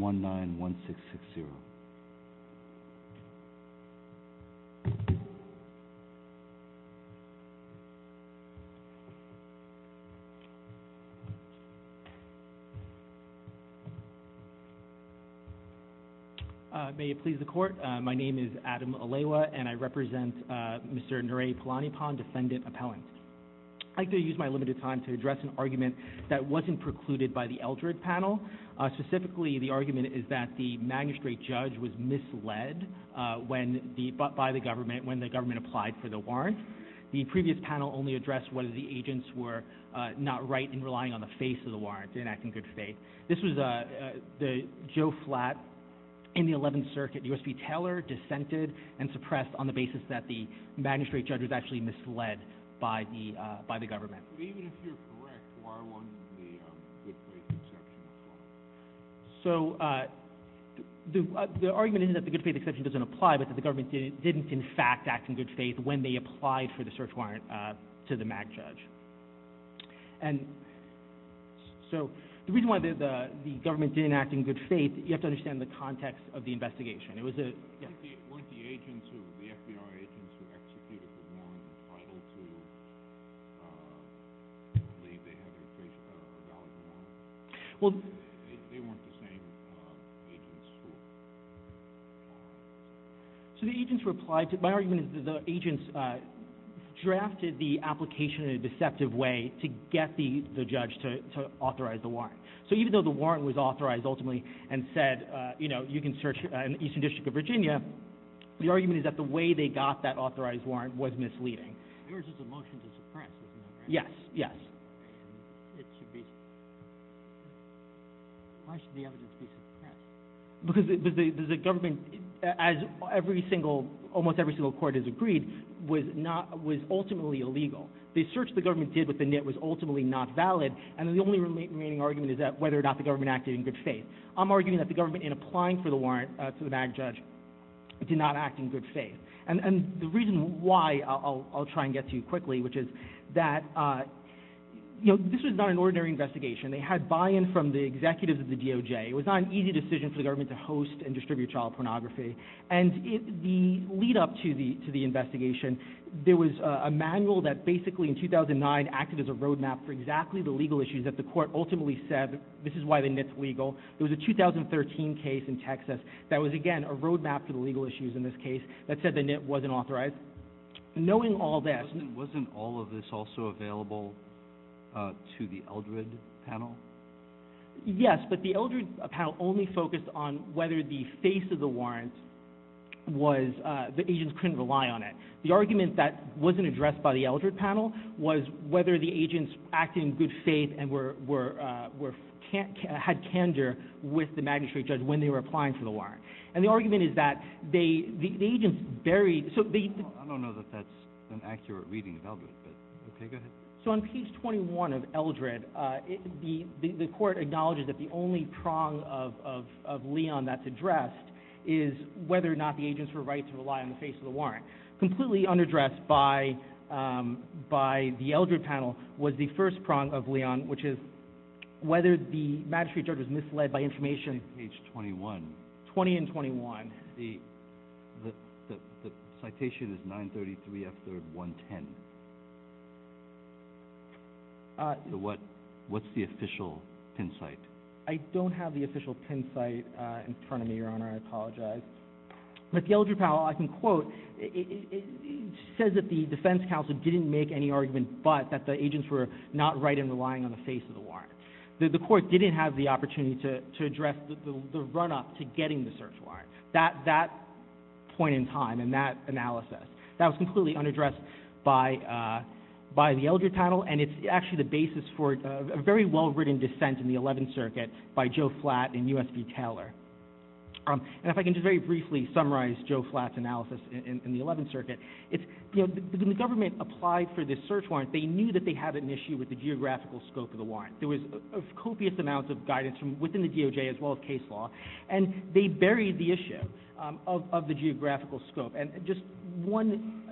1-9-1-6-6-0 May it please the court, my name is Adam Aleiwa and I represent Mr. Nare Palaniappan, Defendant Appellant. I'd like to use my limited time to address an argument that wasn't precluded by the Eldred panel. Specifically, the argument is that the Magistrate Judge was misled by the government when the government applied for the warrant. The previous panel only addressed whether the agents were not right in relying on the face of the warrant to enact in good faith. This was Joe Flatt in the 11th Circuit, U.S. v. Taylor, dissented and suppressed on the grounds that the Magistrate Judge was actually misled by the government. So the argument is that the good faith exception doesn't apply but that the government didn't in fact act in good faith when they applied for the search warrant to the Mag Judge. So the reason why the government didn't act in good faith, you have to understand the context of the investigation. Weren't the FBI agents who executed the warrant entitled to believe they had a valid warrant? They weren't the same agents who applied? My argument is that the agents drafted the application in a deceptive way to get the judge to authorize the warrant. So even though the warrant was authorized ultimately and said, you know, you can search in the Eastern District of Virginia, the argument is that the way they got that authorized warrant was misleading. Yours is a motion to suppress, isn't it? Yes, yes. Why should the evidence be suppressed? Because the government, as almost every single court has agreed, was ultimately illegal. The search the government did with the NIT was ultimately not valid and the only remaining argument is that whether or not the government acted in good faith. I'm arguing that the government in applying for the warrant to the Mag Judge did not act in good faith. And the reason why, I'll try and get to you quickly, which is that, you know, this was not an ordinary investigation. They had buy-in from the executives of the DOJ. It was not an easy decision for the government to host and distribute child pornography. And the lead-up to the investigation, there was a manual that basically in 2009 acted as a road map for exactly the legal issues that the court ultimately said, this is why the NIT's legal. There was a 2013 case in Texas that was, again, a road map for the legal issues in this case that said the NIT wasn't authorized. Knowing all this... Wasn't all of this also available to the Eldred panel? Yes, but the Eldred panel only focused on whether the face of the warrant was, the agents couldn't rely on it. The argument that wasn't addressed by the Eldred panel was whether the agents acted in good faith and had candor with the Magistrate Judge when they were applying for the warrant. And the argument is that the agents buried... I don't know that that's an accurate reading of Eldred, but okay, go ahead. So on page 21 of Eldred, the court acknowledges that the only prong of Leon that's addressed is whether or not the agents were right to rely on the face of the warrant. Completely unaddressed by the Eldred panel was the first prong of Leon, which is whether the Magistrate Judge was misled by information... Page 21. 20 and 21. The citation is 933 F3rd 110. What's the official pin site? I don't have the official pin site in front of me, Your Honor. I apologize. But the Eldred panel, I can quote, says that the defense counsel didn't make any argument but that the agents were not right in relying on the face of the warrant. The court didn't have the opportunity to address the run-up to getting the search warrant. That point in time and that analysis, that was completely unaddressed by the Eldred panel and it's actually the basis for a very well-written dissent in the 11th Circuit by Joe Flatt and U.S.B. Taylor. And if I can just very briefly summarize Joe Flatt's analysis in the 11th Circuit, when the government applied for this search warrant, they knew that they had an issue with the geographical scope of the warrant. There was copious amounts of guidance from within the DOJ as well as case law and they buried the issue of the geographical scope. And just one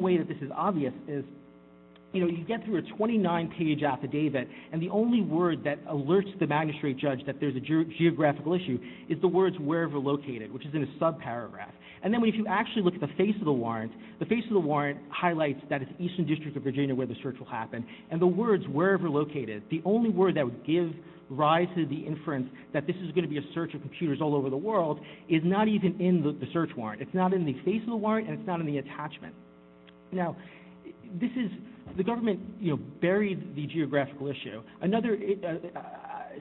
way that this is obvious is, you know, you get through a 29-page affidavit and the only word that alerts the magistrate judge that there's a geographical issue is the words, wherever located, which is in a subparagraph. And then if you actually look at the face of the warrant, the face of the warrant highlights that it's Eastern District of Virginia where the search will happen and the words, wherever located, the only word that would give rise to the inference that this is going to be a search of computers all over the world is not even in the search warrant. It's not in the face of the warrant and it's not in the attachment. Now, this is, the government, you know, buried the geographical issue. Another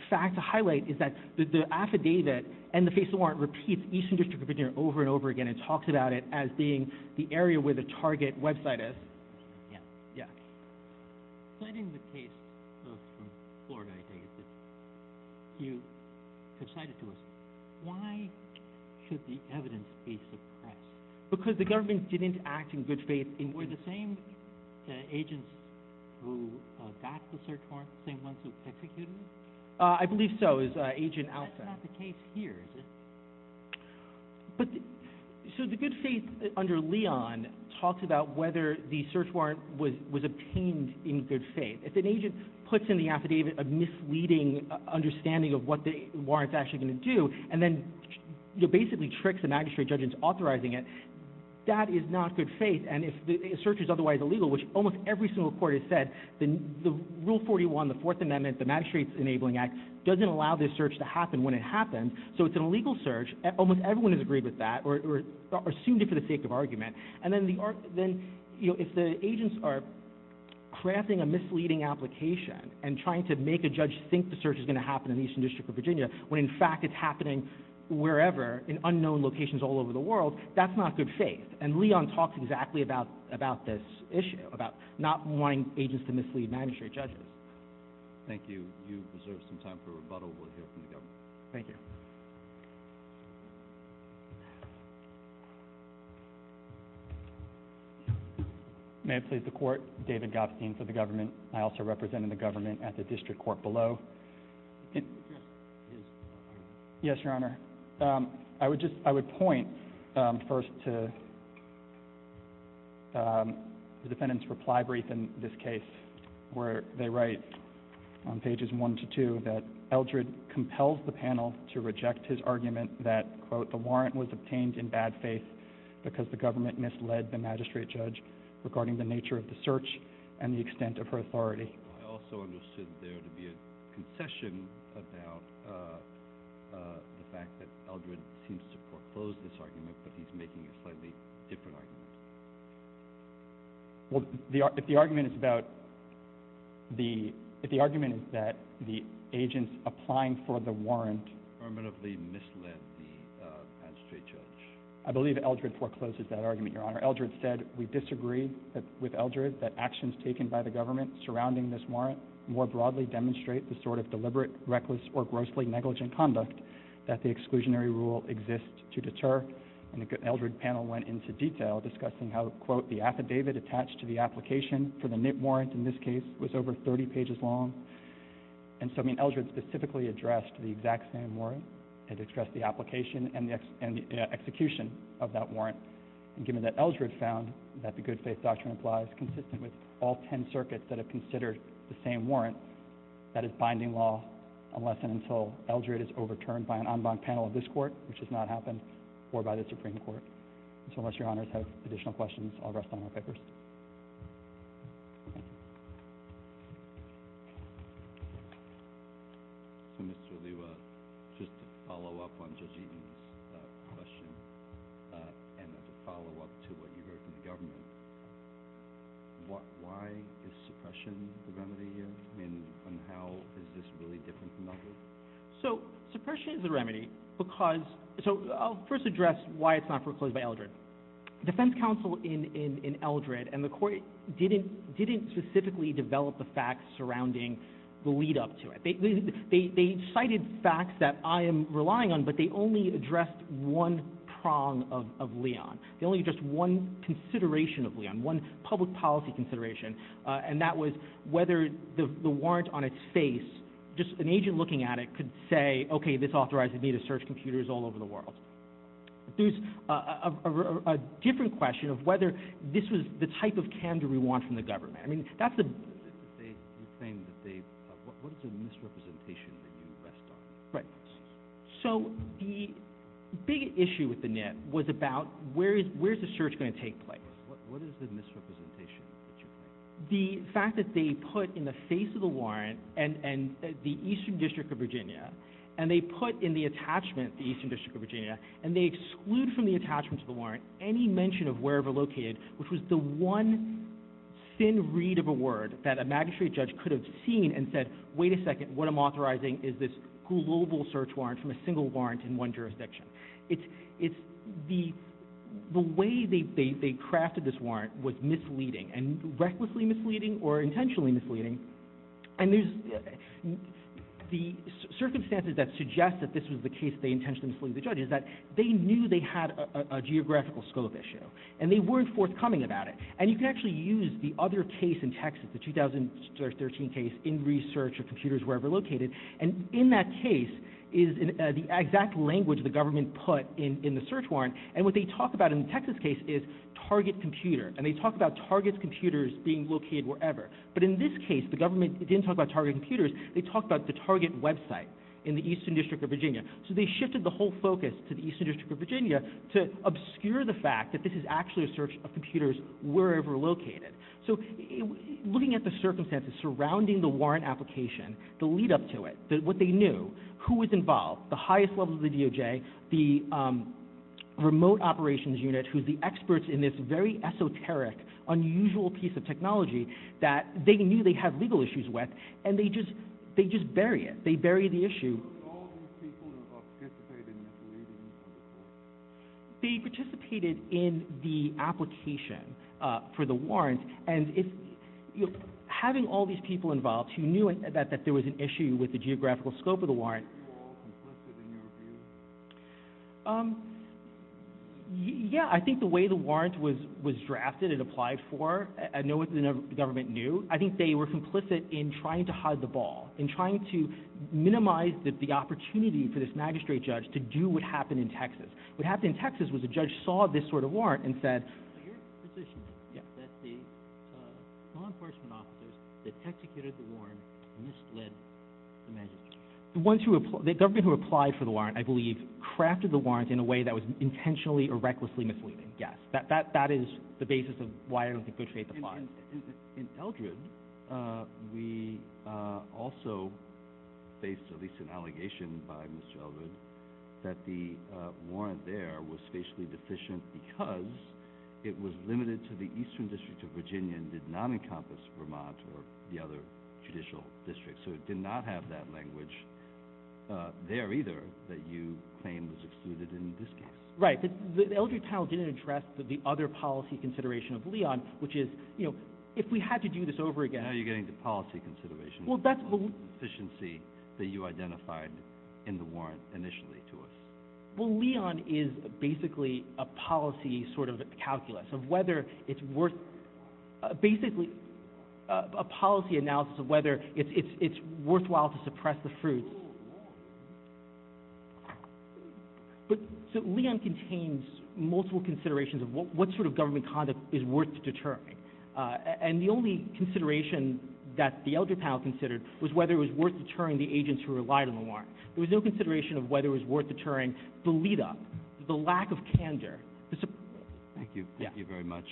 fact to highlight is that the affidavit and the face of the warrant repeats Eastern District of Virginia over and over again and talks about it as being the area where the target website is. Yeah. Because the government didn't act in good faith. I believe so. That's not the case here. So it's an illegal search. Almost everyone has agreed with that or assumed it for the sake of argument. And then, you know, if the agents are crafting a misleading application and trying to make a judge think the search is going to happen in Eastern District of Virginia when, in fact, it's happening wherever, in unknown locations all over the world, that's not good faith. And Leon talks exactly about this issue, about not wanting agents to mislead magistrate judges. Thank you. You deserve some time for rebuttal. We'll hear from the government. Thank you. May it please the Court, David Gopstein for the government. I also represent the government at the district court below. Yes, Your Honor. I would just, I would point first to the defendant's reply brief in this case where they write on pages one to two that Eldred compels the panel to reject his argument that, quote, the warrant was obtained in bad faith because the government misled the magistrate judge regarding the nature of the search and the extent of her authority. I also understood there to be a concession about the fact that Eldred seems to foreclose this argument but he's making a slightly different argument. Well, if the argument is about the, if the argument is that the agents applying for the warrant permanently misled the magistrate judge. I believe Eldred forecloses that argument, Your Honor. Eldred said, we disagree with Eldred that actions taken by the government surrounding this warrant more broadly demonstrate the sort of deliberate, reckless, or grossly negligent conduct that the exclusionary rule exists to deter. And Eldred's panel went into detail discussing how, quote, the affidavit attached to the application for the nip warrant in this case was over 30 pages long. And so Eldred specifically addressed the exact same warrant and addressed the application and the execution of that warrant. And given that Eldred found that the good faith doctrine applies consistent with all 10 circuits that have considered the same warrant, that is binding law, unless and until Eldred is overturned by an en banc panel of this court, which has not happened, or by the Supreme Court. So unless Your Honors have additional questions, I'll rest on my papers. Thank you. So, Mr. Oluwa, just to follow up on Judge Eaton's question, and to follow up to what you heard from the government, why is suppression the remedy here? I mean, and how is this really different from others? So suppression is a remedy because, so I'll first address why it's not foreclosed by Eldred. Defense counsel in Eldred and the court didn't specifically develop the facts surrounding the lead up to it. They cited facts that I am relying on, but they only addressed one prong of Leon. They only addressed one consideration of Leon, one public policy consideration, and that was whether the warrant on its face, just an agent looking at it, could say, okay, this authorizes me to search computers all over the world. There's a different question of whether this was the type of candor we want from the government. I mean, that's the- You're saying that they, what is the misrepresentation that you rest on? Right. So the big issue with the NIT was about where is the search going to take place? What is the misrepresentation that you think? The fact that they put in the face of the warrant and the Eastern District of Virginia, and they put in the attachment the Eastern District of Virginia, and they exclude from the attachment to the warrant any mention of wherever located, which was the one thin read of a word that a magistrate judge could have seen and said, wait a second, what I'm authorizing is this global search warrant from a single warrant in one jurisdiction. It's the way they crafted this warrant was misleading and recklessly misleading or intentionally misleading. And the circumstances that suggest that this was the case they intentionally mislead the judge is that they knew they had a geographical scope issue, and they weren't forthcoming about it. And you can actually use the other case in Texas, the 2013 case, in research of computers wherever located, and in that case is the exact language the government put in the search warrant. And what they talk about in the Texas case is target computer, and they talk about target computers being located wherever. But in this case, the government didn't talk about target computers. They talked about the target website in the Eastern District of Virginia. So they shifted the whole focus to the Eastern District of Virginia to obscure the fact that this is actually a search of computers wherever located. So looking at the circumstances surrounding the warrant application, the lead-up to it, what they knew, who was involved, the highest level of the DOJ, the remote operations unit who's the experts in this very esoteric, unusual piece of technology that they knew they had legal issues with, and they just bury it. They bury the issue. So it was all these people who participated in the deleting of the warrant? They participated in the application for the warrant, and having all these people involved who knew that there was an issue with the geographical scope of the warrant. Were they all complicit in your view? Yeah, I think the way the warrant was drafted and applied for, I know what the government knew. I think they were complicit in trying to hide the ball and trying to minimize the opportunity for this magistrate judge to do what happened in Texas. What happened in Texas was the judge saw this sort of warrant and said- So you're in the position that the law enforcement officers that executed the warrant misled the magistrate? The government who applied for the warrant, I believe, crafted the warrant in a way that was intentionally or recklessly misleading, yes. That is the basis of why I don't think Go Trade applied. In Eldred, we also faced at least an allegation by Mr. Eldred that the warrant there was spatially deficient because it was limited to the eastern district of Virginia and did not encompass Vermont or the other judicial districts. So it did not have that language there either that you claim was excluded in this case. Right. The Eldred panel didn't address the other policy consideration of Leon, which is, you know, if we had to do this over again- Now you're getting to policy considerations. Well, that's- Efficiency that you identified in the warrant initially to us. Well, Leon is basically a policy sort of calculus of whether it's worth- basically a policy analysis of whether it's worthwhile to suppress the fruits. But Leon contains multiple considerations of what sort of government conduct is worth deterring. And the only consideration that the Eldred panel considered was whether it was worth deterring the agents who relied on the warrant. There was no consideration of whether it was worth deterring the lead-up, the lack of candor. Thank you. Thank you very much.